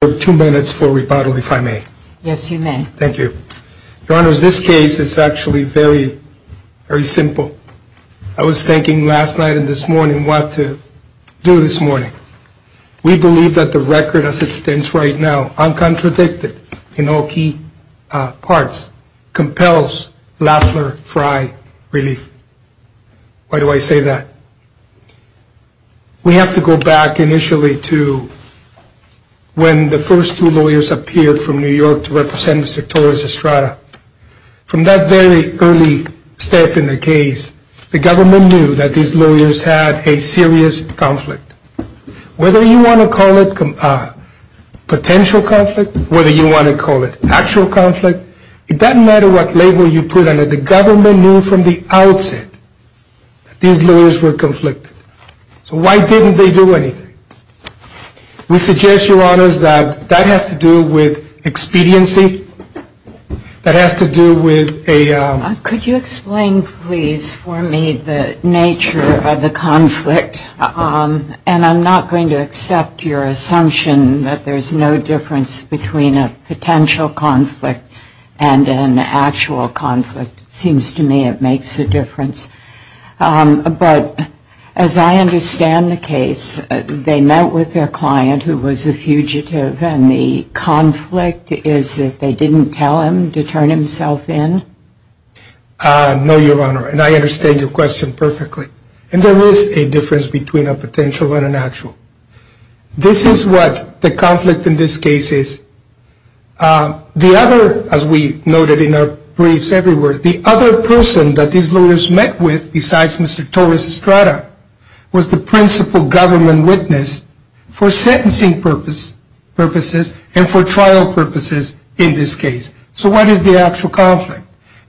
for two minutes for rebuttal, if I may. Yes, you may. Thank you. Your Honors, this case is actually very, very simple. I was thinking last night and this morning what to do this morning. We believe that the record as it stands right now, uncontradicted in all key parts, compels Lafleur Frye Relief. Why do I say that? We have to go back, initially, to when the first two lawyers appeared from New York to represent Mr. Torres-Estrada. From that very early step in the case, the government knew that these lawyers had a serious conflict. Whether you want to call it potential conflict, whether you want to call it actual conflict, it doesn't matter what label you put on it, the government knew from the outset that these lawyers were conflicted. So why didn't they do anything? We suggest, Your Honors, that that has to do with expediency, that has to do with a... Could you explain, please, for me the nature of the conflict? And I'm not going to accept your assumption that there's no difference between a potential conflict and an actual conflict. It seems to me it makes a difference. But as I understand the case, they met with their client who was a fugitive and the conflict is that they didn't tell him to turn himself in? No, Your Honor, and I understand your question perfectly. And there is a difference between a potential and an actual. This is what the conflict in this case is. The other, as we noted in our briefs everywhere, the other person that these lawyers met with besides Mr. Torres-Estrada was the principal government witness for sentencing purposes and for trial purposes in this case. So what is the actual conflict?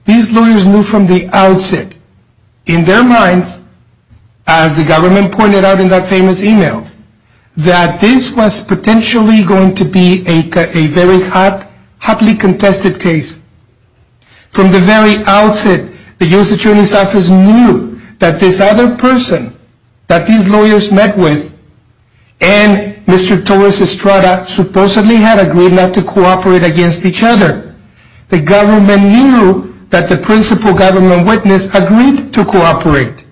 These lawyers knew from the outset, in their minds, as the government pointed out in that famous email, that this was potentially going to be a very hotly contested case. From the very outset, the U.S. Attorney's Office knew that this other person that these lawyers met with and Mr. Torres-Estrada supposedly had agreed not to cooperate against each other. The government knew that the principal government witness agreed to cooperate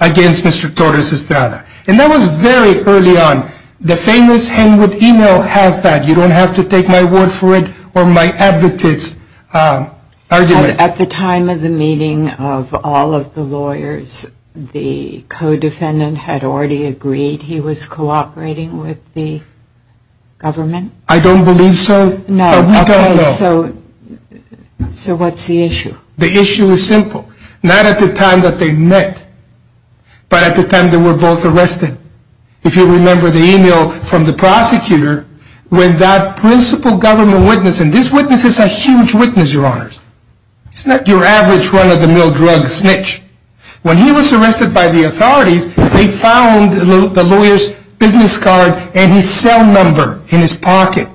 against Mr. Torres-Estrada. And that was very early on. The famous Henwood email has that. You don't have to take my word for it or my advocates' arguments. At the time of the meeting of all of the lawyers, the co-defendant had already agreed he was cooperating with the government? I don't believe so. No. I don't know. So what's the issue? The issue is simple. Not at the time that they met, but at the time they were both arrested. If you remember the email from the prosecutor, when that principal government witness, and this witness is a huge witness, Your Honors. It's not your average run-of-the-mill drug snitch. When he was arrested by the authorities, they found the lawyer's business card and his cell number in his pocket.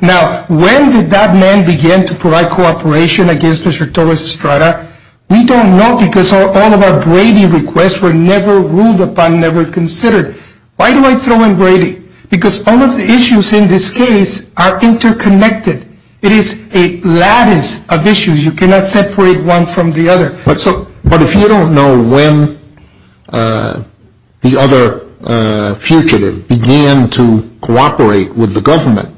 Now, when did that man begin to provide cooperation against Mr. Torres-Estrada? We don't know because all of our Brady requests were never ruled upon, never considered. Why do I throw in Brady? Because all of the issues in this case are interconnected. It is a lattice of issues. You cannot separate one from the other. But if you don't know when the other fugitive began to cooperate with the government,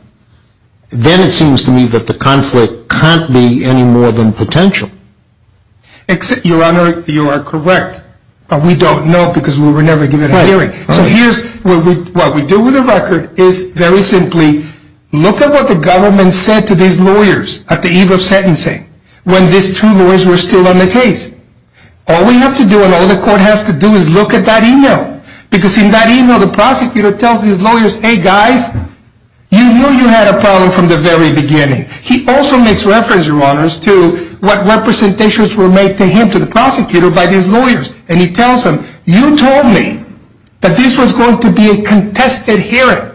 then it seems to me that the conflict can't be any more than potential. Your Honor, you are correct. But we don't know because we were never given a hearing. So what we do with the record is very simply look at what the government said to these lawyers at the eve of sentencing when these two lawyers were still on the case. All we have to do and all the court has to do is look at that email. Because in that email, the prosecutor tells these lawyers, hey guys, you knew you had a problem from the very beginning. He also makes reference, Your Honor, to what representations were made to him, to the prosecutor, by these lawyers. And he tells them, you told me that this was going to be a contested hearing.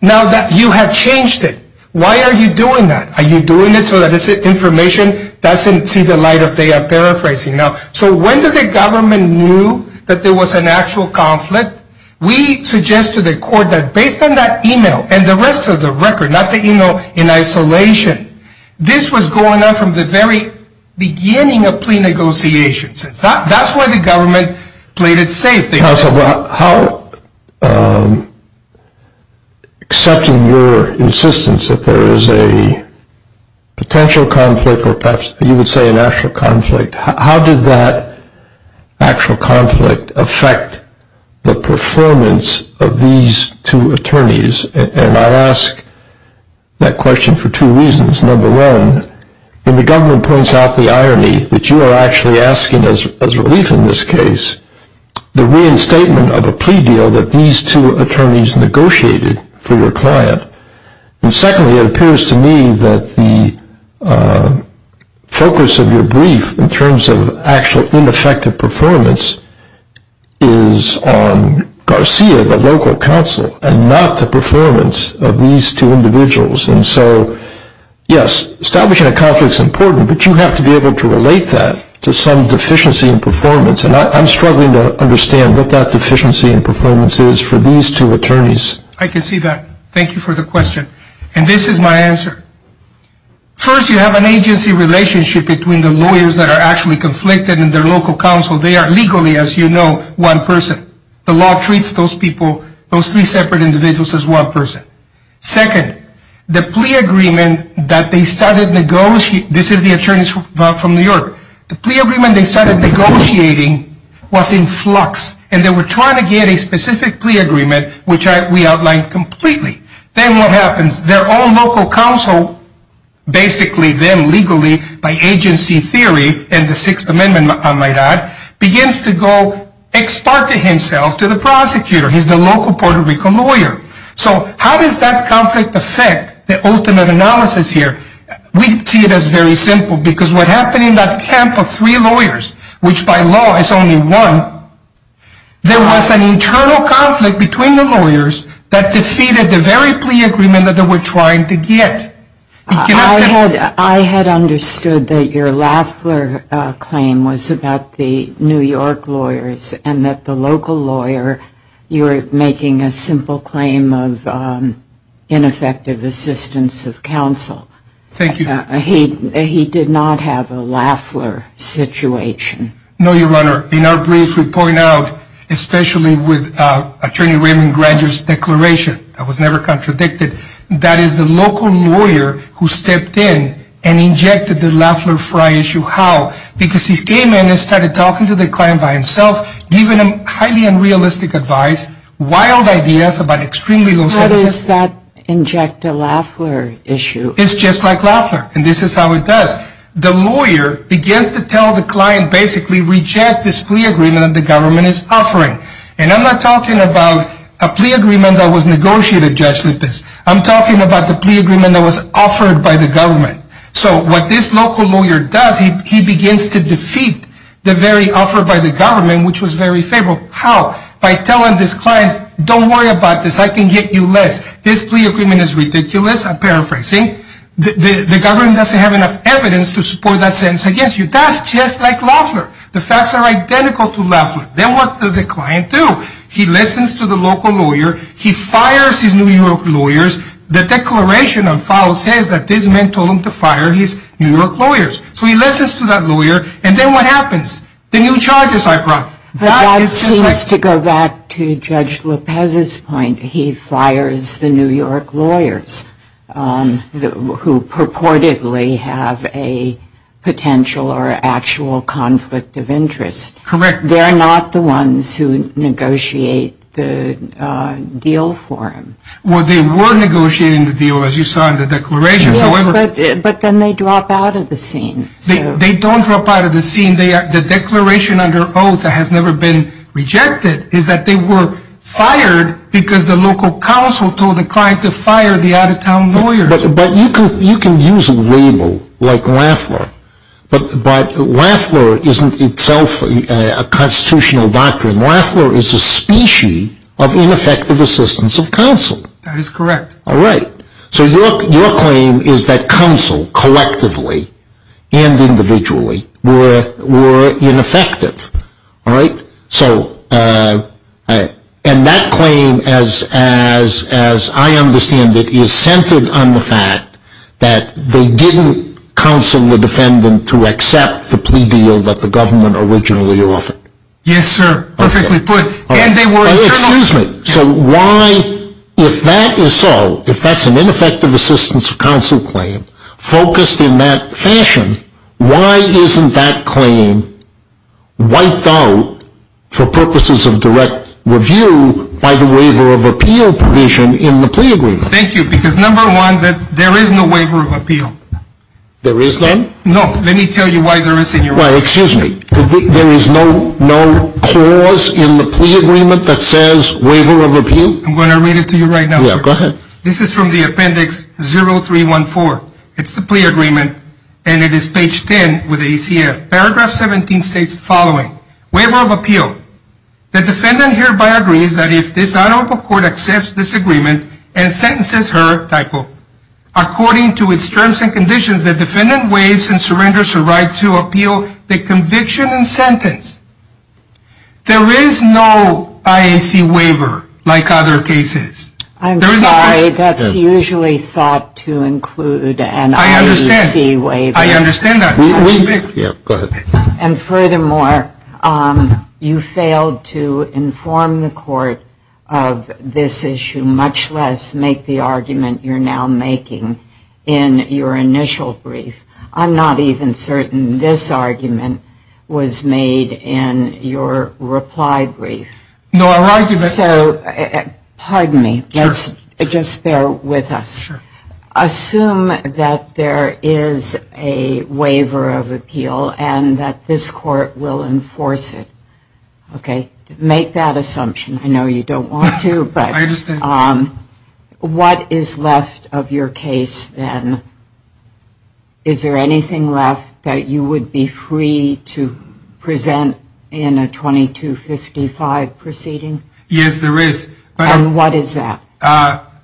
Now that you have changed it, why are you doing that? Are you doing it so that this information doesn't see the light of day? I'm paraphrasing now. So when did the government know that there was an actual conflict? We suggested to the court that based on that email and the rest of the record, not the email in isolation, this was going on from the very beginning of plea negotiations. That's why the government played it safe. Counsel, how, except in your insistence that there is a potential conflict or perhaps you would say an actual conflict, how did that actual conflict affect the performance of these two attorneys? And I ask that question for two reasons. Number one, when the government points out the irony that you are actually asking as relief in this case, the reinstatement of a plea deal that these two attorneys negotiated for your client. And secondly, it appears to me that the focus of your brief in terms of actual ineffective performance is on Garcia, the local counsel, and not the performance of these two individuals. And so, yes, establishing a conflict is important, but you have to be able to relate that to some deficiency in performance. And I'm struggling to understand what that deficiency in performance is for these two attorneys. I can see that. Thank you for the question. And this is my answer. First, you have an agency relationship between the lawyers that are actually conflicted and their local counsel. They are legally, as you know, one person. The law treats those people, those three separate individuals, as one person. Second, the plea agreement that they started negotiating, this is the attorney from New York, the plea agreement they started negotiating was in flux. And they were trying to get a specific plea agreement, which we outlined completely. Then what happens? Their own local counsel, basically them legally by agency theory and the Sixth Amendment, my God, begins to go ex parte himself to the prosecutor. He's the local Puerto Rico lawyer. So how does that conflict affect the ultimate analysis here? We see it as very simple, because what happened in that camp of three lawyers, which by law is only one, there was an internal conflict between the lawyers that defeated the very plea agreement that they were trying to get. I had understood that your Lafler claim was about the New York lawyers and that the local lawyer, you were making a simple claim of ineffective assistance of counsel. Thank you. He did not have a Lafler situation. No, Your Honor. In our briefs we point out, especially with Attorney Raymond Granger's declaration, that was never contradicted, that is the local lawyer who stepped in and injected the Lafler-Frey issue. How? Because he came in and started talking to the client by himself, giving him highly unrealistic advice, wild ideas about extremely low sentences. How does that inject a Lafler issue? It's just like Lafler, and this is how it does. The lawyer begins to tell the client, basically reject this plea agreement that the government is offering. And I'm not talking about a plea agreement that was negotiated, Judge Lipitz. I'm talking about the plea agreement that was offered by the government. So what this local lawyer does, he begins to defeat the very offer by the government, which was very favorable. How? By telling this client, don't worry about this, I can get you less. This plea agreement is ridiculous, I'm paraphrasing. The government doesn't have enough evidence to support that sentence against you. That's just like Lafler. The facts are identical to Lafler. Then what does the client do? He listens to the local lawyer. He fires his New York lawyers. The declaration on file says that this man told him to fire his New York lawyers. So he listens to that lawyer, and then what happens? The new charges are brought. But that seems to go back to Judge Lopez's point. He fires the New York lawyers who purportedly have a potential or actual conflict of interest. Correct. They are not the ones who negotiate the deal for him. Well, they were negotiating the deal, as you saw in the declaration. Yes, but then they drop out of the scene. They don't drop out of the scene. The declaration under oath that has never been rejected is that they were fired because the local counsel told the client to fire the out-of-town lawyers. But you can use a label like Lafler. But Lafler isn't itself a constitutional doctrine. Lafler is a species of ineffective assistance of counsel. That is correct. All right. So your claim is that counsel, collectively and individually, were ineffective. And that claim, as I understand it, is centered on the fact that they didn't counsel the defendant to accept the plea deal that the government originally offered. Yes, sir. Perfectly put. Excuse me. So why, if that is so, if that's an ineffective assistance of counsel claim focused in that fashion, why isn't that claim wiped out for purposes of direct review by the waiver of appeal provision in the plea agreement? Thank you. Because, number one, there is no waiver of appeal. There is none? No. Let me tell you why there isn't. Excuse me. There is no clause in the plea agreement that says waiver of appeal? I'm going to read it to you right now, sir. Go ahead. This is from the appendix 0314. It's the plea agreement, and it is page 10 with ACF. Paragraph 17 states the following. Waiver of appeal. The defendant hereby agrees that if this honorable court accepts this agreement and sentences her, typo, according to its terms and conditions, the defendant waives and surrenders her right to appeal the conviction and sentence. There is no IAC waiver like other cases. I'm sorry. That's usually thought to include an IAC waiver. I understand. I understand that. Go ahead. And, furthermore, you failed to inform the court of this issue, much less make the argument you're now making in your initial brief. I'm not even certain this argument was made in your reply brief. No, our argument So, pardon me. Sure. Just bear with us. Sure. Assume that there is a waiver of appeal and that this court will enforce it. Okay? Make that assumption. I know you don't want to, but I understand. What is left of your case, then? Is there anything left that you would be free to present in a 2255 proceeding? Yes, there is. And what is that?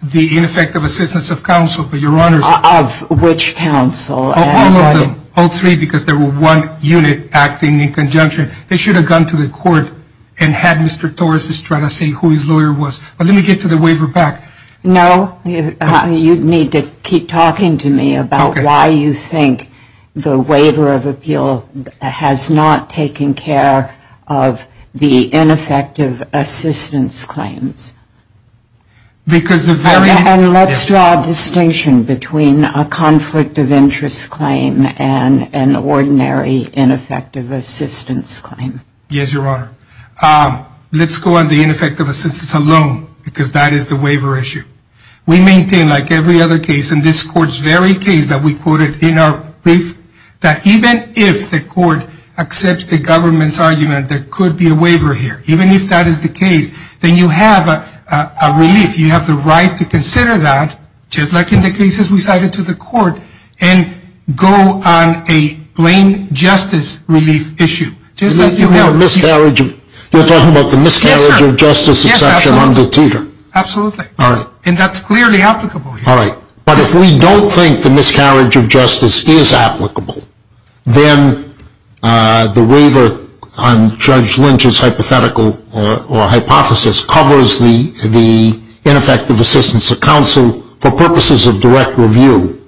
The ineffective assistance of counsel. Of which counsel? All of them. All three because there was one unit acting in conjunction. They should have gone to the court and had Mr. Torres' try to see who his lawyer was. But let me get to the waiver back. No. You need to keep talking to me about why you think the waiver of appeal has not taken care of the ineffective assistance claims. Because the very And let's draw a distinction between a conflict of interest claim and an ordinary ineffective assistance claim. Yes, Your Honor. Let's go on the ineffective assistance alone because that is the waiver issue. We maintain, like every other case in this court's very case that we quoted in our brief, that even if the court accepts the government's argument there could be a waiver here. Even if that is the case, then you have a relief. You have the right to consider that, just like in the cases we cited to the court, and go on a plain justice relief issue. You're talking about the miscarriage of justice exception under Teeter. Absolutely. And that's clearly applicable. All right. But if we don't think the miscarriage of justice is applicable, then the waiver on Judge Lynch's hypothetical or hypothesis covers the ineffective assistance of counsel for purposes of direct review.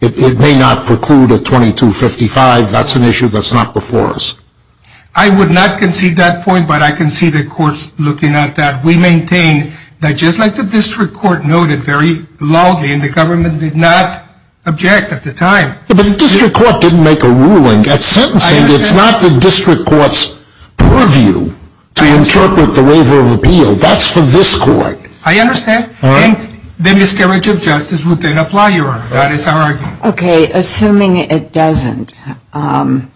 It may not preclude a 2255. That's an issue that's not before us. I would not concede that point, but I can see the courts looking at that. We maintain that just like the district court noted very loudly, and the government did not object at the time. But the district court didn't make a ruling. At sentencing, it's not the district court's purview to interpret the waiver of appeal. That's for this court. I understand. And the miscarriage of justice would then apply, Your Honor. That is our argument. Okay. Assuming it doesn't apply,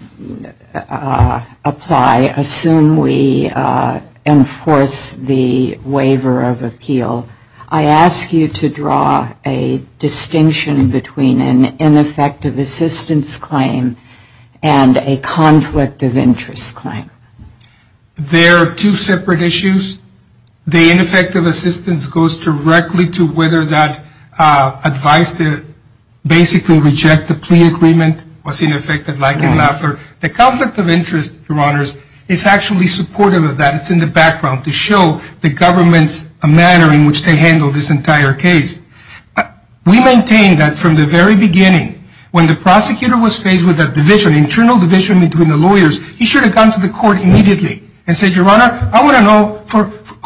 assuming we enforce the waiver of appeal, I ask you to draw a distinction between an ineffective assistance claim and a conflict of interest claim. They are two separate issues. The ineffective assistance goes directly to whether that advice to basically reject the plea agreement was ineffective, like in Lafleur. The conflict of interest, Your Honors, is actually supportive of that. It's in the background to show the government's manner in which they handled this entire case. We maintain that from the very beginning, when the prosecutor was faced with a division, an internal division between the lawyers, he should have gone to the court immediately and said, Your Honor, I want to know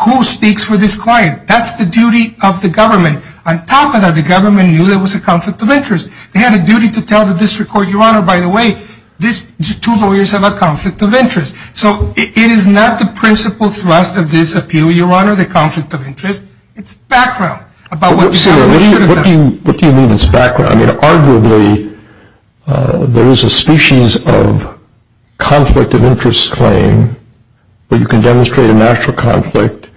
who speaks for this client. That's the duty of the government. On top of that, the government knew there was a conflict of interest. They had a duty to tell the district court, Your Honor, by the way, these two lawyers have a conflict of interest. So it is not the principal thrust of this appeal, Your Honor, the conflict of interest. It's background about what the government should have done. What do you mean it's background? I mean, arguably, there is a species of conflict of interest claim where you can demonstrate a national conflict,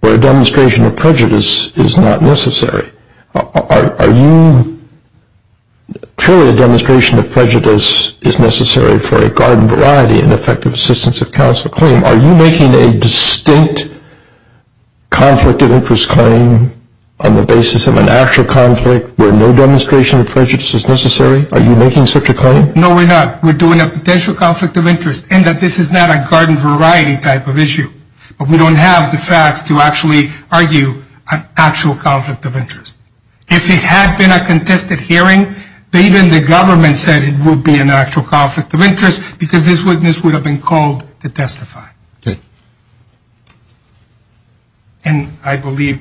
where a demonstration of prejudice is not necessary. Are you truly a demonstration of prejudice is necessary for a garden variety and effective assistance of counsel claim? Are you making a distinct conflict of interest claim on the basis of an actual conflict where no demonstration of prejudice is necessary? Are you making such a claim? No, we're not. We're doing a potential conflict of interest in that this is not a garden variety type of issue. But we don't have the facts to actually argue an actual conflict of interest. If it had been a contested hearing, even the government said it would be an actual conflict of interest because this witness would have been called to testify. Okay. And I believe,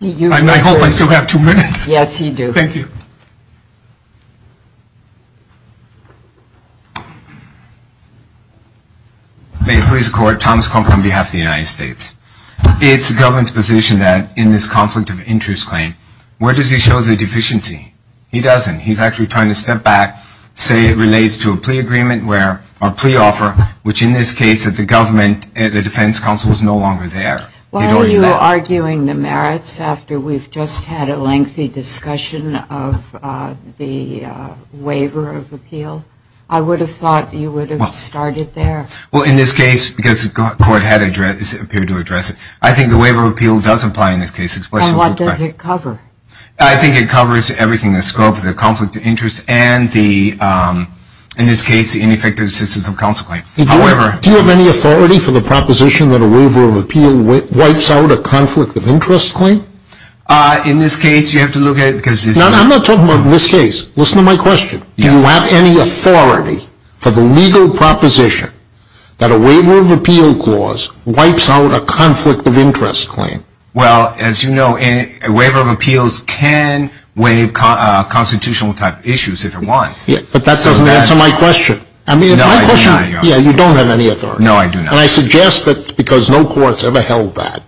I hope I still have two minutes. Yes, you do. Thank you. May it please the Court, Thomas Compton on behalf of the United States. It's the government's position that in this conflict of interest claim, where does he show the deficiency? He doesn't. He's actually trying to step back, say it relates to a plea agreement where, or plea offer, which in this case that the government, the defense counsel is no longer there. Why are you arguing the merits after we've just had a lengthy discussion of the waiver of appeal? I would have thought you would have started there. Well, in this case, because the Court had appeared to address it, I think the waiver of appeal does apply in this case. And what does it cover? I think it covers everything. The scope of the conflict of interest and the, in this case, ineffective assistance of counsel claim. However, Do you have any authority for the proposition that a waiver of appeal wipes out a conflict of interest claim? In this case, you have to look at it because this is No, I'm not talking about in this case. Listen to my question. Do you have any authority for the legal proposition that a waiver of appeal clause wipes out a conflict of interest claim? Well, as you know, a waiver of appeals can waive constitutional type issues if it wants. Yeah, but that doesn't answer my question. No, I do not. Yeah, you don't have any authority. No, I do not. And I suggest that because no court's ever held that,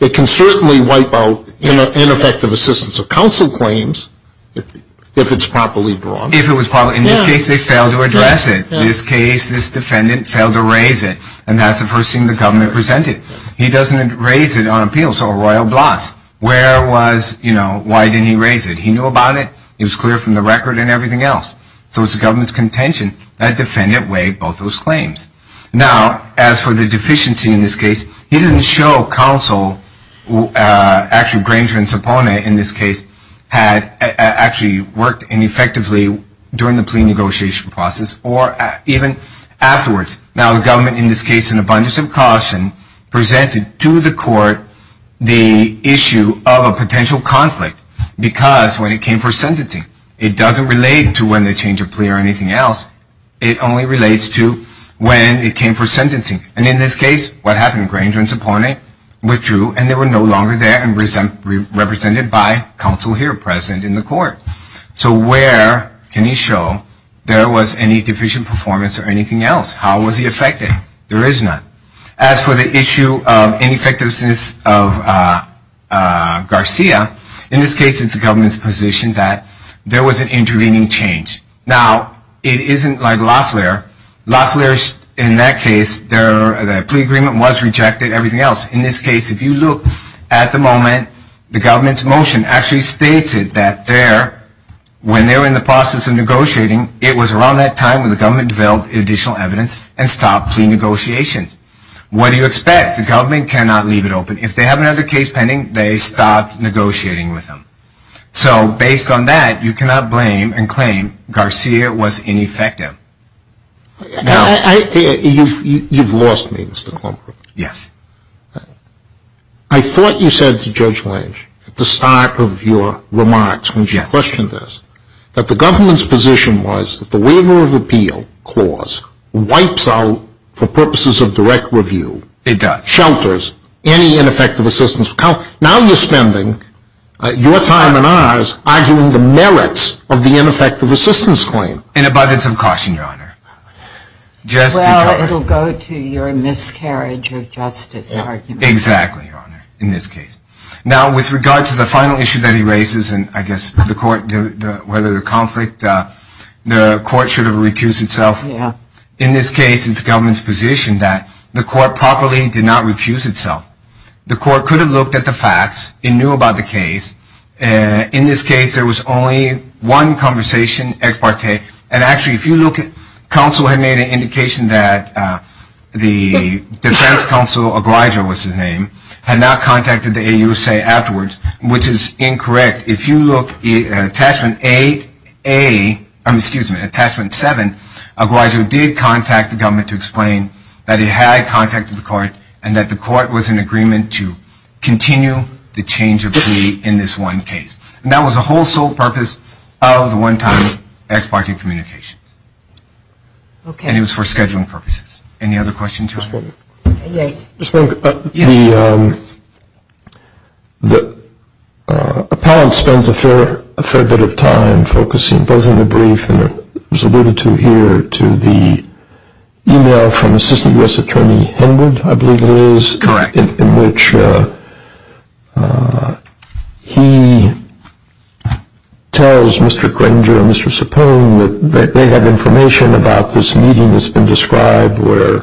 it can certainly wipe out ineffective assistance of counsel claims if it's properly brought. If it was properly, in this case, they failed to address it. This case, this defendant failed to raise it. And that's the first thing the government presented. He doesn't raise it on appeals or royal blots. Where was, you know, why didn't he raise it? He knew about it. It was clear from the record and everything else. So it's the government's contention. That defendant waived both those claims. Now, as for the deficiency in this case, he didn't show counsel, actually Granger and Cepona in this case, had actually worked ineffectively during the plea negotiation process or even afterwards. Now, the government, in this case, in abundance of caution, presented to the court the issue of a potential conflict because when it came for sentencing, it doesn't relate to when they change a plea or anything else. It only relates to when it came for sentencing. And in this case, what happened? Granger and Cepona withdrew, and they were no longer there and represented by counsel here present in the court. So where can you show there was any deficient performance or anything else? How was he affected? There is none. As for the issue of ineffectiveness of Garcia, in this case it's the government's position that there was an intervening change. Now, it isn't like Loeffler. Loeffler, in that case, their plea agreement was rejected and everything else. In this case, if you look at the moment, the government's motion actually states it that there, when they were in the process of negotiating, it was around that time when the government developed additional evidence and stopped plea negotiations. What do you expect? The government cannot leave it open. If they have another case pending, they stop negotiating with them. So based on that, you cannot blame and claim Garcia was ineffective. You've lost me, Mr. Klobuchar. Yes. I thought you said to Judge Lange at the start of your remarks when she questioned this that the government's position was that the Waiver of Appeal Clause wipes out, for purposes of direct review, shelters, any ineffective assistance. Now you're spending your time and ours arguing the merits of the ineffective assistance claim. And it budded some caution, Your Honor. Well, it will go to your miscarriage of justice argument. Exactly, Your Honor, in this case. Now, with regard to the final issue that he raises, and I guess the court, whether the conflict, the court should have recused itself. In this case, it's the government's position that the court properly did not recuse itself. The court could have looked at the facts. It knew about the case. In this case, there was only one conversation, ex parte. And actually, if you look, counsel had made an indication that the defense counsel, O'Griger was his name, had not contacted the AUSA afterwards, which is incorrect. If you look at Attachment 7, O'Griger did contact the government to explain that he had contacted the court and that the court was in agreement to continue the change of plea in this one case. And that was the whole sole purpose of the one-time ex parte communications. And it was for scheduling purposes. Any other questions, Your Honor? Yes. Just one. Yes. Appellant spends a fair bit of time focusing both on the brief, and it was alluded to here, to the email from Assistant U.S. Attorney Henwood, I believe it is. Correct. In which he tells Mr. Granger and Mr. Cipone that they have information about this meeting that's been described where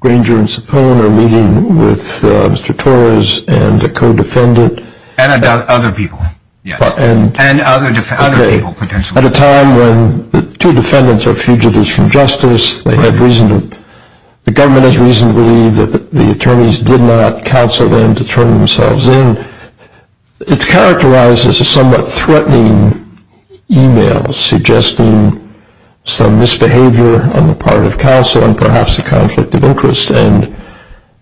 Granger and Cipone are meeting with Mr. Torres and a co-defendant. And other people, yes. And other people, potentially. At a time when the two defendants are fugitives from justice, the government has reason to believe that the attorneys did not counsel them to turn themselves in. It's characterized as a somewhat threatening email suggesting some misbehavior on the part of counsel and perhaps a conflict of interest. And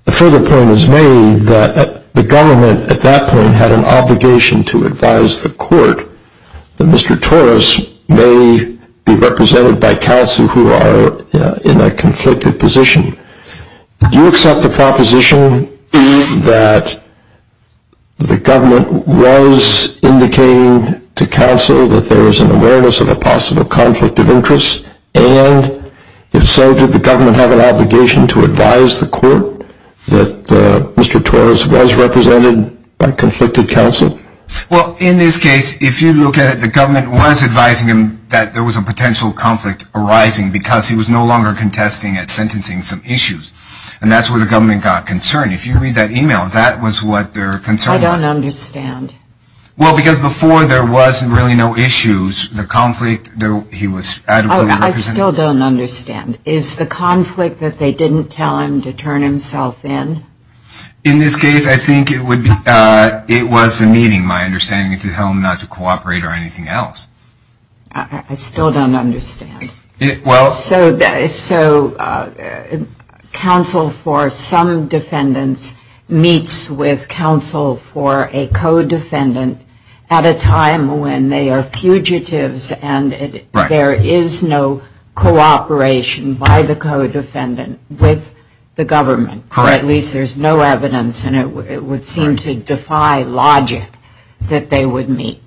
a further point is made that the government at that point had an obligation to advise the court that Mr. Torres may be represented by counsel who are in a conflicted position. Do you accept the proposition that the government was indicating to counsel that there was an awareness of a possible conflict of interest? And if so, did the government have an obligation to advise the court that Mr. Torres was represented by conflicted counsel? Well, in this case, if you look at it, the government was advising him that there was a potential conflict arising because he was no longer contesting at sentencing some issues. And that's where the government got concerned. If you read that email, that was what they're concerned about. I don't understand. Well, because before there was really no issues, the conflict, he was adequately concerned. I still don't understand. Is the conflict that they didn't tell him to turn himself in? In this case, I think it was the meeting, my understanding, to tell him not to cooperate or anything else. I still don't understand. So counsel for some defendants meets with counsel for a co-defendant at a time when they are fugitives and there is no cooperation by the co-defendant with the government. Correct. Or at least there's no evidence and it would seem to defy logic that they would meet.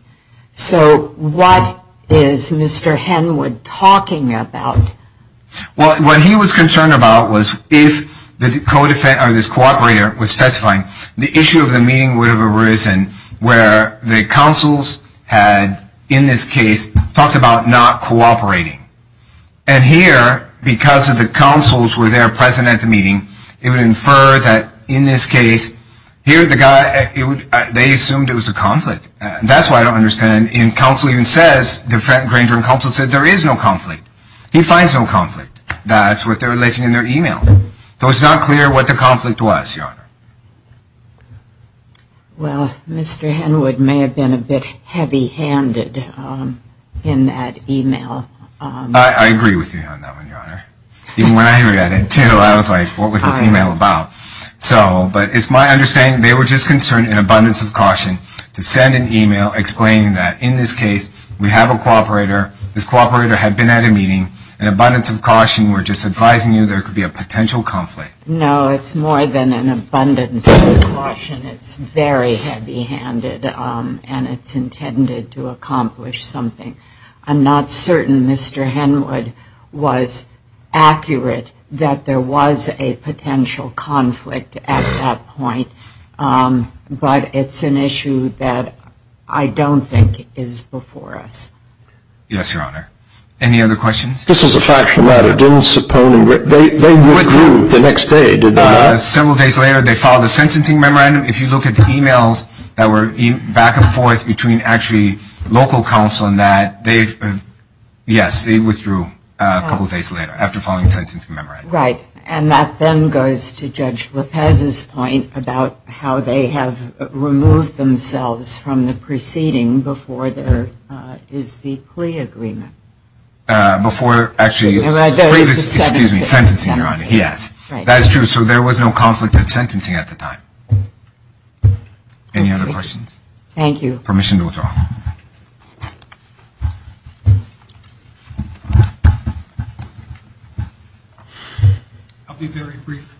So what is Mr. Henwood talking about? Well, what he was concerned about was if this co-operator was specifying, the issue of the meeting would have arisen where the counsels had, in this case, talked about not cooperating. And here, because of the counsels were there present at the meeting, it would infer that in this case, here the guy, they assumed it was a conflict. That's why I don't understand. And counsel even says, the Granger and counsel said there is no conflict. He finds no conflict. That's what they're relating in their emails. So it's not clear what the conflict was, Your Honor. Well, Mr. Henwood may have been a bit heavy-handed in that email. I agree with you on that one, Your Honor. Even when I read it, too, I was like, what was this email about? So, but it's my understanding they were just concerned in abundance of caution to send an email explaining that, in this case, we have a co-operator, this co-operator had been at a meeting, in abundance of caution we're just advising you there could be a potential conflict. No, it's more than an abundance of caution. It's very heavy-handed, and it's intended to accomplish something. I'm not certain Mr. Henwood was accurate that there was a potential conflict at that point, but it's an issue that I don't think is before us. Yes, Your Honor. Any other questions? This is a factual matter. They withdrew the next day, did they not? Several days later, they filed a sentencing memorandum. If you look at the emails that were back and forth between actually local counsel and that, yes, they withdrew a couple of days later after filing a sentencing memorandum. Right. And that then goes to Judge Lopez's point about how they have removed themselves from the proceeding before there is the plea agreement. Before actually sentencing, Your Honor, yes. That's true. So there was no conflict at sentencing at the time. Any other questions? Thank you. Permission to withdraw. I'll be very brief.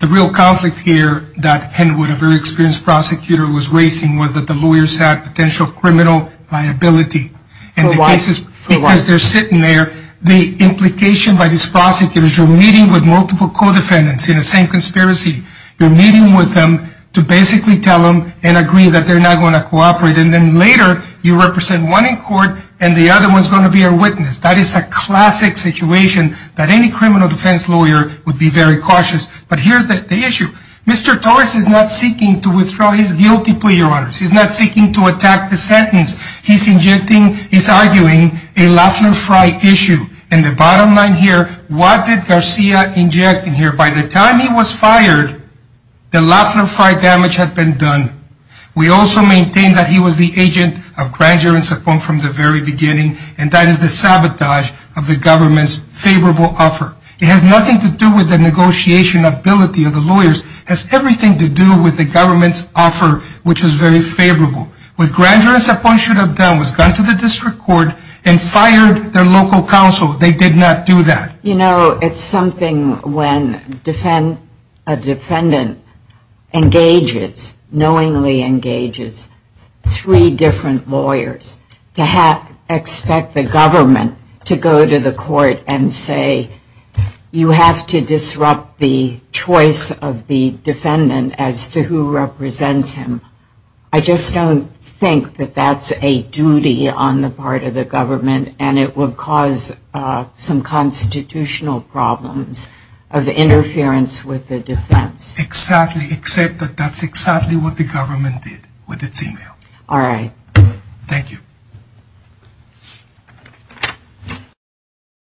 The real conflict here that Henwood, a very experienced prosecutor, was raising was that the lawyers had potential criminal liability. For what? Because they're sitting there. The implication by these prosecutors, you're meeting with multiple co-defendants in the same conspiracy. You're meeting with them to basically tell them and agree that they're not going to cooperate. And then later, you represent one in court and the other one is going to be a witness. That is a classic situation that any criminal defense lawyer would be very cautious. But here's the issue. Mr. Torres is not seeking to withdraw his guilty plea, Your Honor. He's not seeking to attack the sentence. He's injecting, he's arguing, a Lafleur-Frey issue. And the bottom line here, what did Garcia inject in here? By the time he was fired, the Lafleur-Frey damage had been done. We also maintain that he was the agent of Granger and Sapone from the very beginning, and that is the sabotage of the government's favorable offer. It has nothing to do with the negotiation ability of the lawyers. It has everything to do with the government's offer, which was very favorable. What Granger and Sapone should have done was gone to the district court and fired their local counsel. They did not do that. You know, it's something when a defendant engages, knowingly engages, three different lawyers to expect the government to go to the court and say, you have to disrupt the choice of the defendant as to who represents him. I just don't think that that's a duty on the part of the government, and it would cause some constitutional problems of interference with the defense. Exactly. Except that that's exactly what the government did with its email. All right. Thank you.